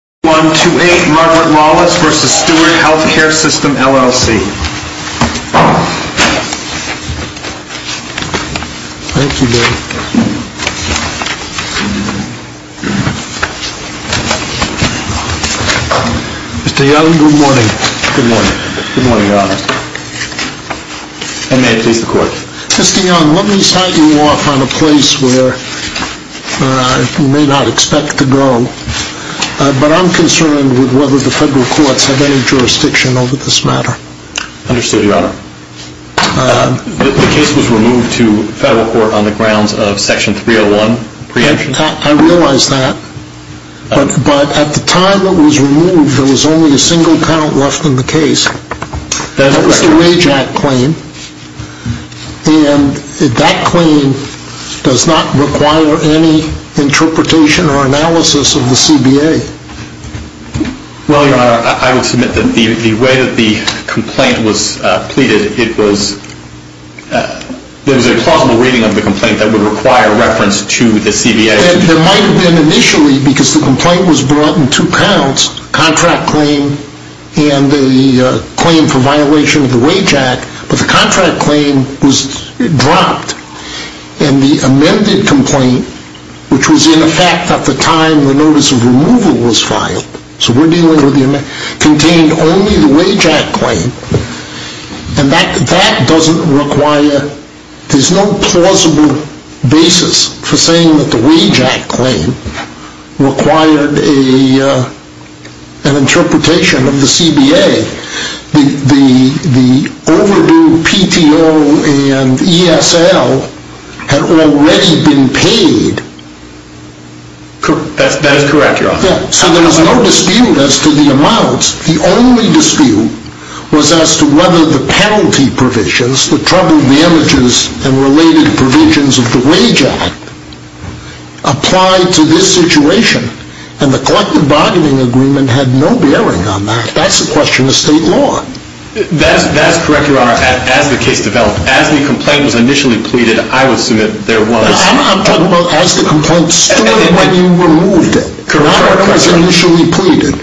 Mr. Young, let me start you off on a place where you may not expect to go, but I'm going to ask you a question that I'm concerned with, whether the federal courts have any jurisdiction over this matter. Understood, Your Honor. The case was removed to federal court on the grounds of Section 301 preemption? I realize that, but at the time it was removed, there was only a single count left in the case. That is correct. But the contract claim was dropped, and the amended complaint, which was in effect at the time the notice of removal was filed, contained only the wage act claim, and that doesn't require, there's no plausible basis for saying that the wage act claim required an interpretation of the CBA. The overdue PTO and ESL had already been paid. That is correct, Your Honor. So there was no dispute as to the amounts. The only dispute was as to whether the penalty provisions, the trouble damages and related provisions of the wage act, applied to this situation. And the collective bargaining agreement had no bearing on that. That's a question of state law. That's correct, Your Honor, as the case developed. As the complaint was initially pleaded, I would assume that there was... I'm talking about as the complaint stood when you removed it. Correct, Your Honor. When it was initially pleaded.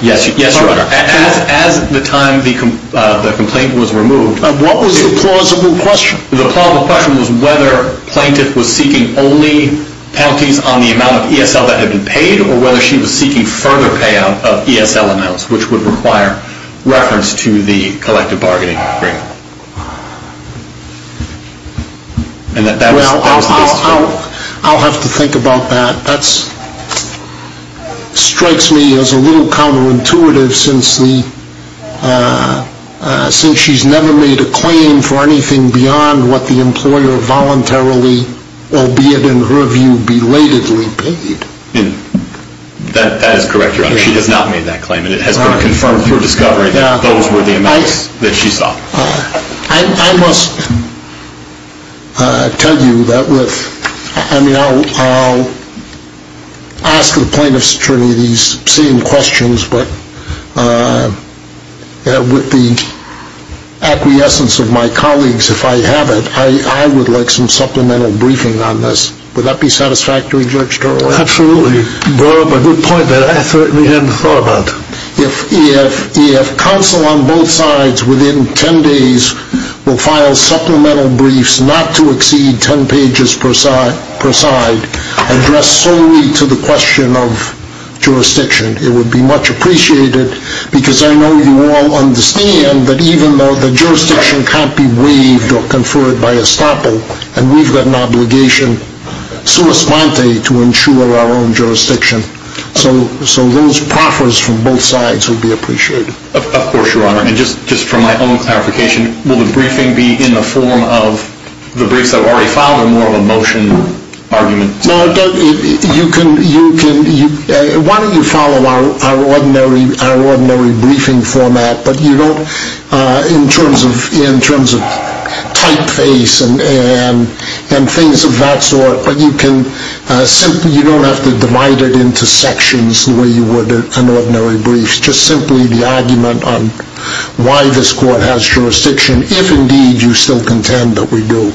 Yes, Your Honor. As the time the complaint was removed... What was the plausible question? The plausible question was whether the plaintiff was seeking only penalties on the amount of ESL that had been paid, or whether she was seeking further payout of ESL amounts, which would require reference to the collective bargaining agreement. Well, I'll have to think about that. That strikes me as a little counterintuitive since she's never made a claim for anything beyond what the employer voluntarily, albeit in her view, belatedly paid. That is correct, Your Honor. She has not made that claim, and it has been confirmed through discovery that those were the amounts that she sought. I must tell you that with... I mean, I'll ask the plaintiff's attorney these same questions, but with the acquiescence of my colleagues, if I have it, I would like some supplemental briefing on this. Would that be satisfactory, Judge Dorough? Absolutely. Dorough, a good point that I certainly hadn't thought about. If counsel on both sides within ten days will file supplemental briefs not to exceed ten pages per side, addressed solely to the question of jurisdiction, it would be much appreciated, because I know you all understand that even though the jurisdiction can't be waived or conferred by estoppel, and we've got an obligation sua sponte to ensure our own jurisdiction. So those proffers from both sides would be appreciated. Of course, Your Honor. And just for my own clarification, will the briefing be in the form of the briefs that were already filed or more of a motion argument? Why don't you follow our ordinary briefing format in terms of typeface and things of that sort, but you don't have to divide it into sections the way you would in ordinary briefs, just simply the argument on why this court has jurisdiction, if indeed you still contend that we do.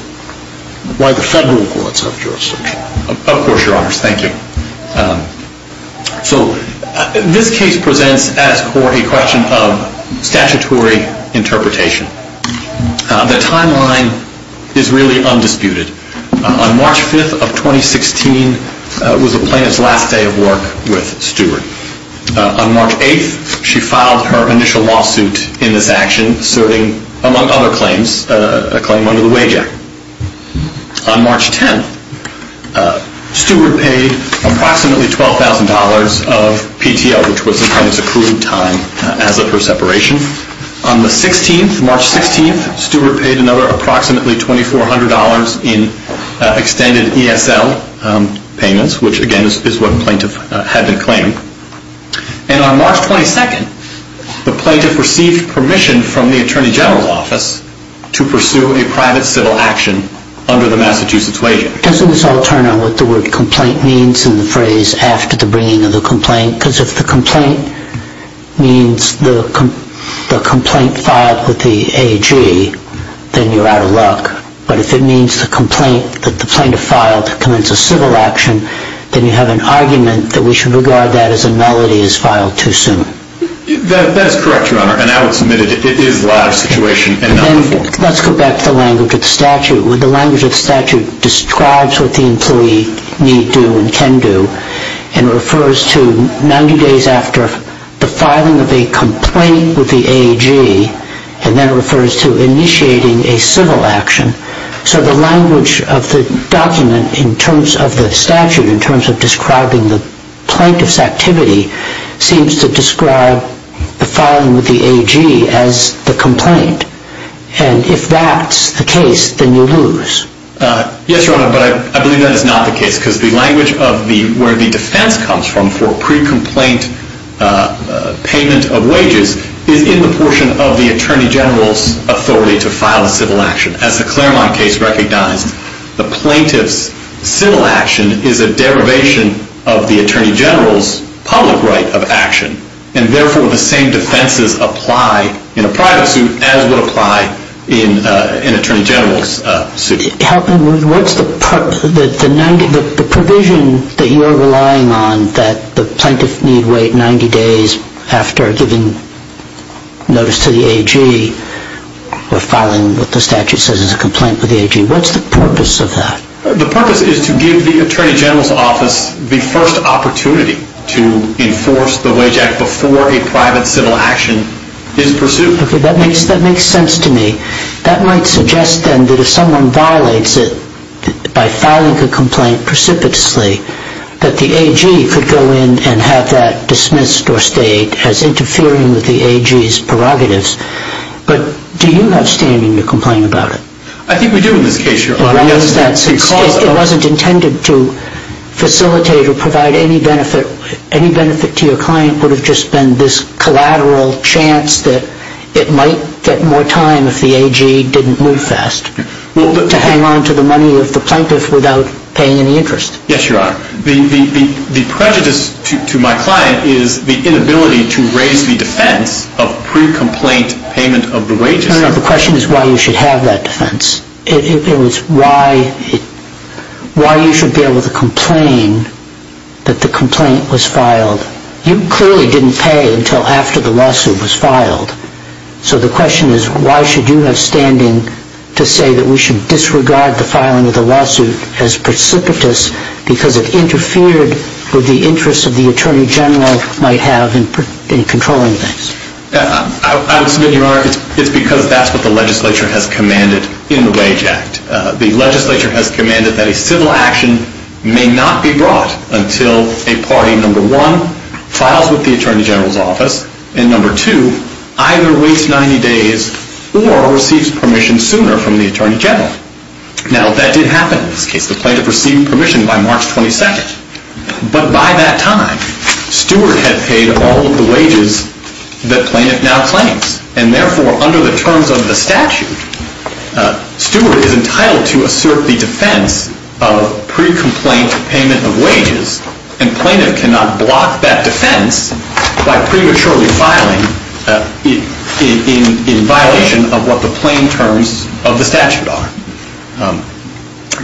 Why the federal courts have jurisdiction. Of course, Your Honors. Thank you. So this case presents as court a question of statutory interpretation. The timeline is really undisputed. On March 5th of 2016 was the plaintiff's last day of work with Stewart. On March 8th, she filed her initial lawsuit in this action, serving, among other claims, a claim under the wage act. On March 10th, Stewart paid approximately $12,000 of PTO, which was the plaintiff's accrued time as of her separation. On the 16th, March 16th, Stewart paid another approximately $2,400 in extended ESL payments, which again is what the plaintiff had been claiming. And on March 22nd, the plaintiff received permission from the Attorney General's Office to pursue a private civil action under the Massachusetts wage act. Doesn't this all turn on what the word complaint means in the phrase after the bringing of the complaint? Because if the complaint means the complaint filed with the AG, then you're out of luck. But if it means the complaint that the plaintiff filed to commence a civil action, then you have an argument that we should regard that as a melody as filed too soon. That is correct, Your Honor, and I would submit it is the latter situation and not the former. Let's go back to the language of the statute. The language of the statute describes what the employee need do and can do and refers to 90 days after the filing of a complaint with the AG and then refers to initiating a civil action. So the language of the document in terms of the statute in terms of describing the plaintiff's activity seems to describe the filing with the AG as the complaint. And if that's the case, then you lose. Yes, Your Honor, but I believe that is not the case because the language of where the defense comes from for pre-complaint payment of wages is in the portion of the Attorney General's authority to file a civil action. As the Claremont case recognized, the plaintiff's civil action is a derivation of the Attorney General's public right of action, and therefore the same defenses apply in a private suit as would apply in an Attorney General's suit. Help me, what's the provision that you're relying on that the plaintiff need wait 90 days after giving notice to the AG or filing what the statute says is a complaint with the AG? What's the purpose of that? The purpose is to give the Attorney General's office the first opportunity to enforce the Wage Act before a private civil action is pursued. Okay, that makes sense to me. That might suggest then that if someone violates it by filing a complaint precipitously, that the AG could go in and have that dismissed or stayed as interfering with the AG's prerogatives. But do you have standing to complain about it? I think we do in this case, Your Honor. It wasn't intended to facilitate or provide any benefit. Any benefit to your client would have just been this collateral chance that it might get more time if the AG didn't move fast, to hang on to the money of the plaintiff without paying any interest. Yes, Your Honor. The prejudice to my client is the inability to raise the defense of pre-complaint payment of the Wage Act. No, no, no. The question is why you should have that defense. It was why you should be able to complain that the complaint was filed. You clearly didn't pay until after the lawsuit was filed. So the question is why should you have standing to say that we should disregard the filing of the lawsuit as precipitous because it interfered with the interests of the Attorney General might have in controlling things. I would submit, Your Honor, it's because that's what the legislature has commanded in the Wage Act. The legislature has commanded that a civil action may not be brought until a party, number one, files with the Attorney General's office, and number two, either waits 90 days or receives permission sooner from the Attorney General. Now that did happen in this case. The plaintiff received permission by March 22nd. But by that time, Stewart had paid all of the wages that plaintiff now claims. And therefore, under the terms of the statute, Stewart is entitled to assert the defense of pre-complaint payment of wages. And plaintiff cannot block that defense by prematurely filing in violation of what the plain terms of the statute are.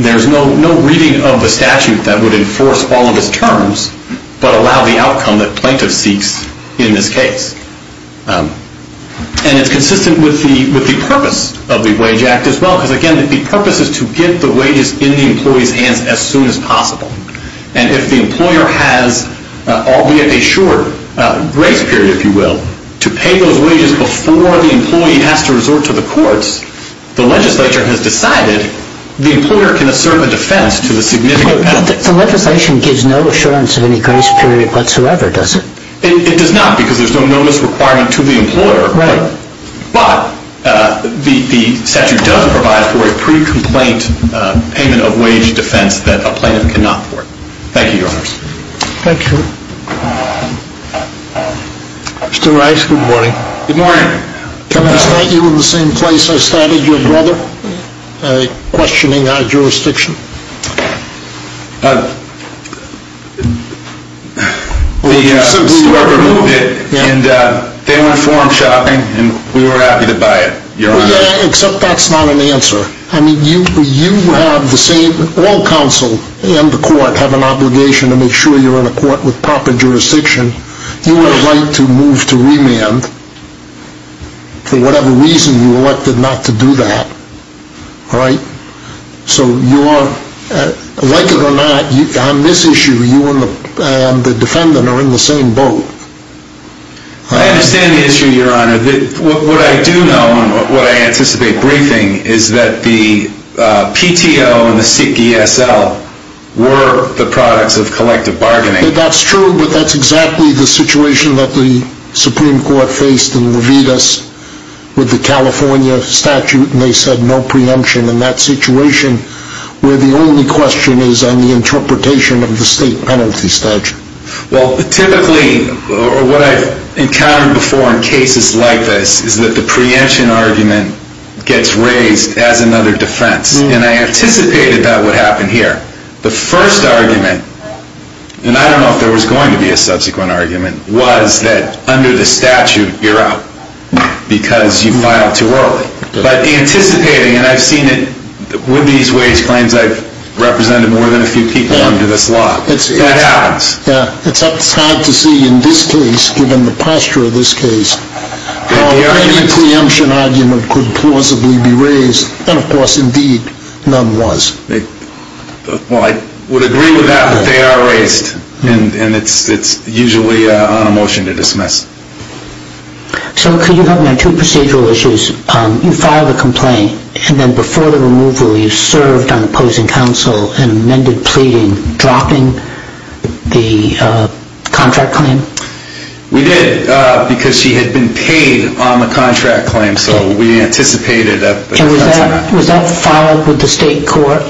There's no reading of the statute that would enforce all of his terms but allow the outcome that plaintiff seeks in this case. And it's consistent with the purpose of the Wage Act as well. Because again, the purpose is to get the wages in the employee's hands as soon as possible. And if the employer has, albeit a short grace period, if you will, to pay those wages before the employee has to resort to the courts, the legislature has decided the employer can assert the defense to the significant penalty. But the legislation gives no assurance of any grace period whatsoever, does it? It does not because there's no notice requirement to the employer. Right. But the statute does provide for a pre-complaint payment of wage defense that a plaintiff cannot afford. Thank you, Your Honors. Thank you. Mr. Rice, good morning. Good morning. Can I start you in the same place I started your brother, questioning our jurisdiction? Well, you simply removed it and they went forum shopping and we were happy to buy it, Your Honor. Well, yeah, except that's not an answer. I mean, you have the same, all counsel and the court have an obligation to make sure you're in a court with proper jurisdiction. You have a right to move to remand for whatever reason you elected not to do that. All right? So, like it or not, on this issue, you and the defendant are in the same boat. I understand the issue, Your Honor. What I do know and what I anticipate briefing is that the PTO and the ESL were the products of collective bargaining. That's true, but that's exactly the situation that the Supreme Court faced in Levitas with the California statute and they said no preemption in that situation where the only question is on the interpretation of the state penalty statute. Well, typically what I've encountered before in cases like this is that the preemption argument gets raised as another defense. And I anticipated that would happen here. The first argument, and I don't know if there was going to be a subsequent argument, was that under the statute you're out because you filed too early. But anticipating, and I've seen it with these wage claims, I've represented more than a few people under this law. That happens. Yeah. It's hard to see in this case, given the posture of this case, how any preemption argument could plausibly be raised. And, of course, indeed, none was. Well, I would agree with that, but they are raised and it's usually on a motion to dismiss. So could you help me on two procedural issues? You filed a complaint and then before the removal you served on opposing counsel and amended pleading, dropping the contract claim? We did because she had been paid on the contract claim, so we anticipated that. And was that filed with the state court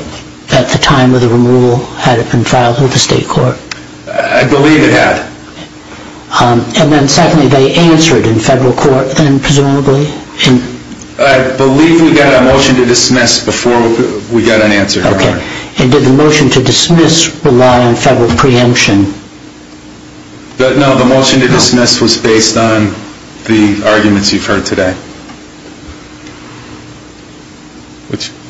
at the time of the removal? Had it been filed with the state court? I believe it had. And then secondly, they answered in federal court then, presumably? I believe we got a motion to dismiss before we got an answer. Okay. And did the motion to dismiss rely on federal preemption? No, the motion to dismiss was based on the arguments you've heard today.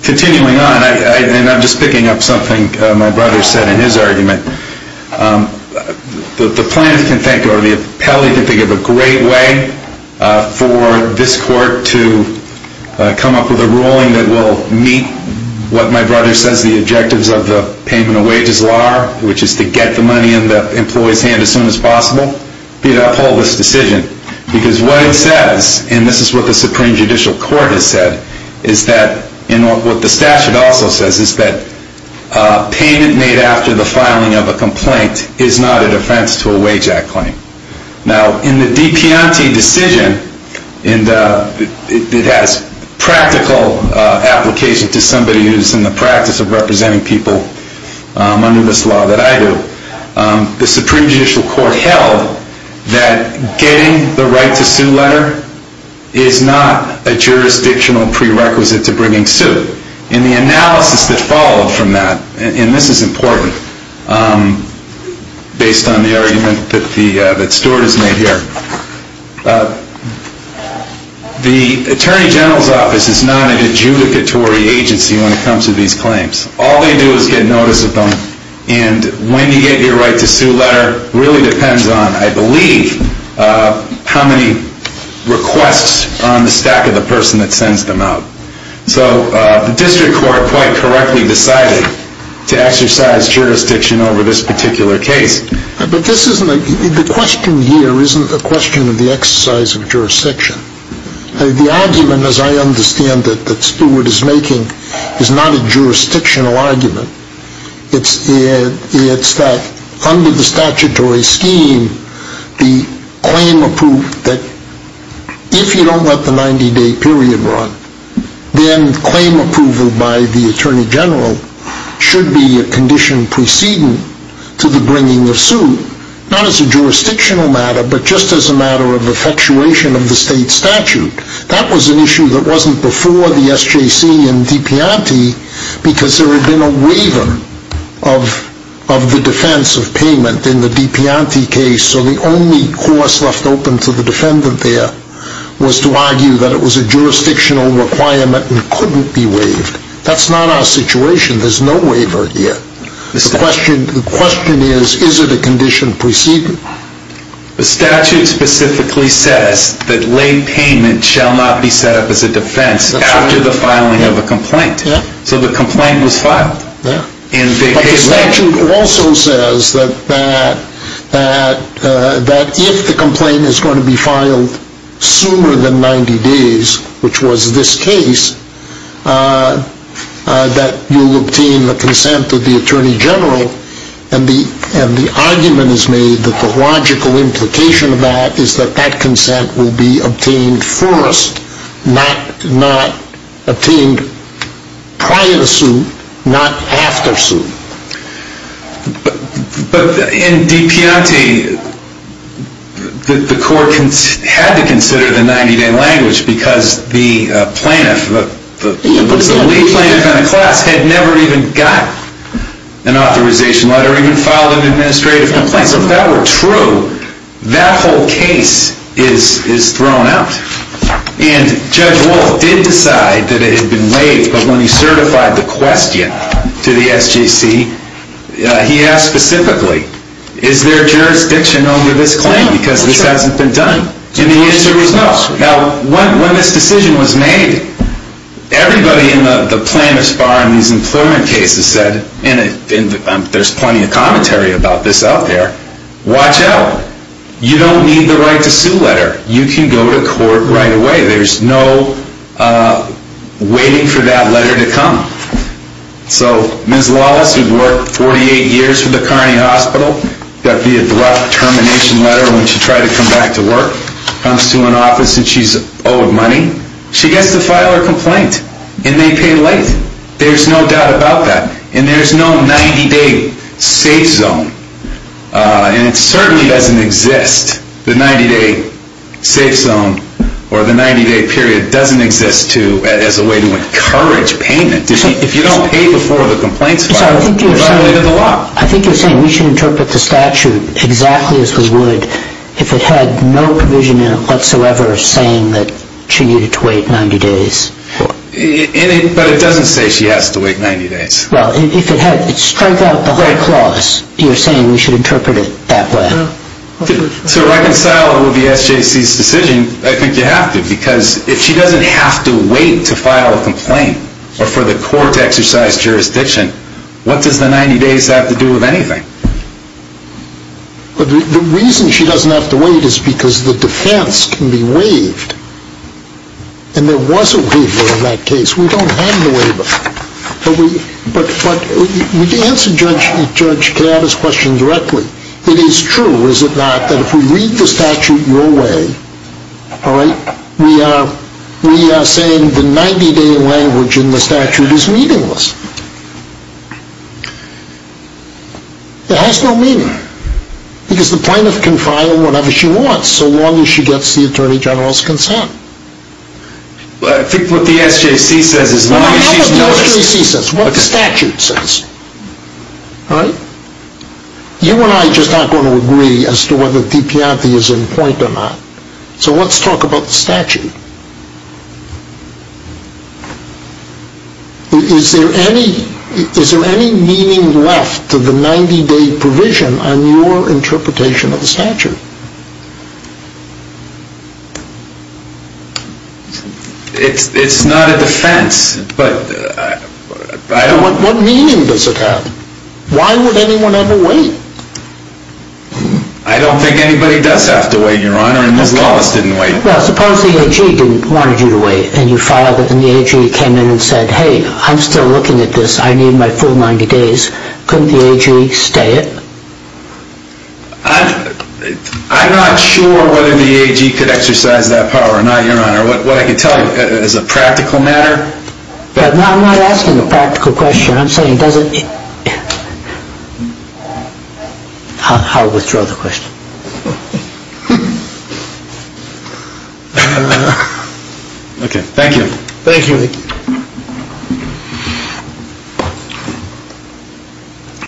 Continuing on, and I'm just picking up something my brother said in his argument. The plaintiff can think, or the appellee can think of a great way for this court to come up with a ruling that will meet what my brother says the objectives of the payment of wages law are, which is to get the money in the employee's hand as soon as possible. I don't beat up all this decision because what it says, and this is what the Supreme Judicial Court has said, is that what the statute also says is that payment made after the filing of a complaint is not an offense to a wage act claim. Now, in the DiPiante decision, and it has practical application to somebody who's in the practice of representing people under this law that I do, the Supreme Judicial Court held that getting the right to sue letter is not a jurisdictional prerequisite to bringing suit. And the analysis that followed from that, and this is important, based on the argument that Stuart has made here, the Attorney General's Office is not an adjudicatory agency when it comes to these claims. All they do is get notice of them, and when you get your right to sue letter really depends on, I believe, how many requests are on the stack of the person that sends them out. So the district court quite correctly decided to exercise jurisdiction over this particular case. But this isn't a, the question here isn't a question of the exercise of jurisdiction. The argument, as I understand it, that Stuart is making is not a jurisdictional argument. It's that under the statutory scheme, the claim approved, that if you don't let the 90-day period run, then claim approval by the Attorney General should be a condition preceding to the bringing of suit, not as a jurisdictional matter, but just as a matter of effectuation of the state statute. That was an issue that wasn't before the SJC and Dipianti because there had been a waiver of the defense of payment in the Dipianti case. So the only course left open to the defendant there was to argue that it was a jurisdictional requirement and couldn't be waived. That's not our situation. There's no waiver here. The question is, is it a condition preceding? The statute specifically says that late payment shall not be set up as a defense after the filing of a complaint. So the complaint was filed. But the statute also says that if the complaint is going to be filed sooner than 90 days, which was this case, that you'll obtain the consent of the Attorney General. And the argument is made that the logical implication of that is that that consent will be obtained first, not obtained prior to suit, not after suit. But in Dipianti, the court had to consider the 90-day language because the plaintiff, the lead plaintiff in the class, had never even got an authorization letter, even filed an administrative complaint. So if that were true, that whole case is thrown out. And Judge Wolf did decide that it had been waived, but when he certified the question to the SGC, he asked specifically, is there jurisdiction over this claim because this hasn't been done? And the answer was no. Now, when this decision was made, everybody in the plaintiff's bar in these employment cases said, and there's plenty of commentary about this out there, watch out. You don't need the right to sue letter. You can go to court right away. There's no waiting for that letter to come. So Ms. Lawless, who'd worked 48 years for the Kearney Hospital, got the abrupt termination letter when she tried to come back to work, comes to an office and she's owed money. She gets to file her complaint, and they pay late. There's no doubt about that. And there's no 90-day safe zone, and it certainly doesn't exist. The 90-day safe zone or the 90-day period doesn't exist as a way to encourage payment. If you don't pay before the complaints file, you're violating the law. I think you're saying we should interpret the statute exactly as we would if it had no provision in it whatsoever saying that she needed to wait 90 days. But it doesn't say she has to wait 90 days. Well, if it had, it strikes out the whole clause. You're saying we should interpret it that way. To reconcile it with the SJC's decision, I think you have to, because if she doesn't have to wait to file a complaint or for the court to exercise jurisdiction, what does the 90 days have to do with anything? The reason she doesn't have to wait is because the defense can be waived. And there was a waiver in that case. We don't have the waiver. But would you answer Judge Kavanaugh's question directly? It is true, is it not, that if we read the statute your way, we are saying the 90-day language in the statute is meaningless. It has no meaning. Because the plaintiff can file whatever she wants so long as she gets the Attorney General's consent. I think what the SJC says is, as long as she's noticed. Well, I don't know what the SJC says. What the statute says. All right? You and I just aren't going to agree as to whether the DPRP is in point or not. So let's talk about the statute. Is there any meaning left to the 90-day provision on your interpretation of the statute? It's not a defense, but I don't... What meaning does it have? Why would anyone ever wait? I don't think anybody does have to wait, Your Honor, and Ms. Collins didn't wait. Well, suppose the AG didn't want you to wait, and you filed it, and the AG came in and said, hey, I'm still looking at this. I need my full 90 days. Couldn't the AG stay it? I'm not sure whether the AG could exercise that power or not, Your Honor. What I can tell you is a practical matter. I'm not asking a practical question. I'm saying does it... I'll withdraw the question. Okay. Thank you. Thank you.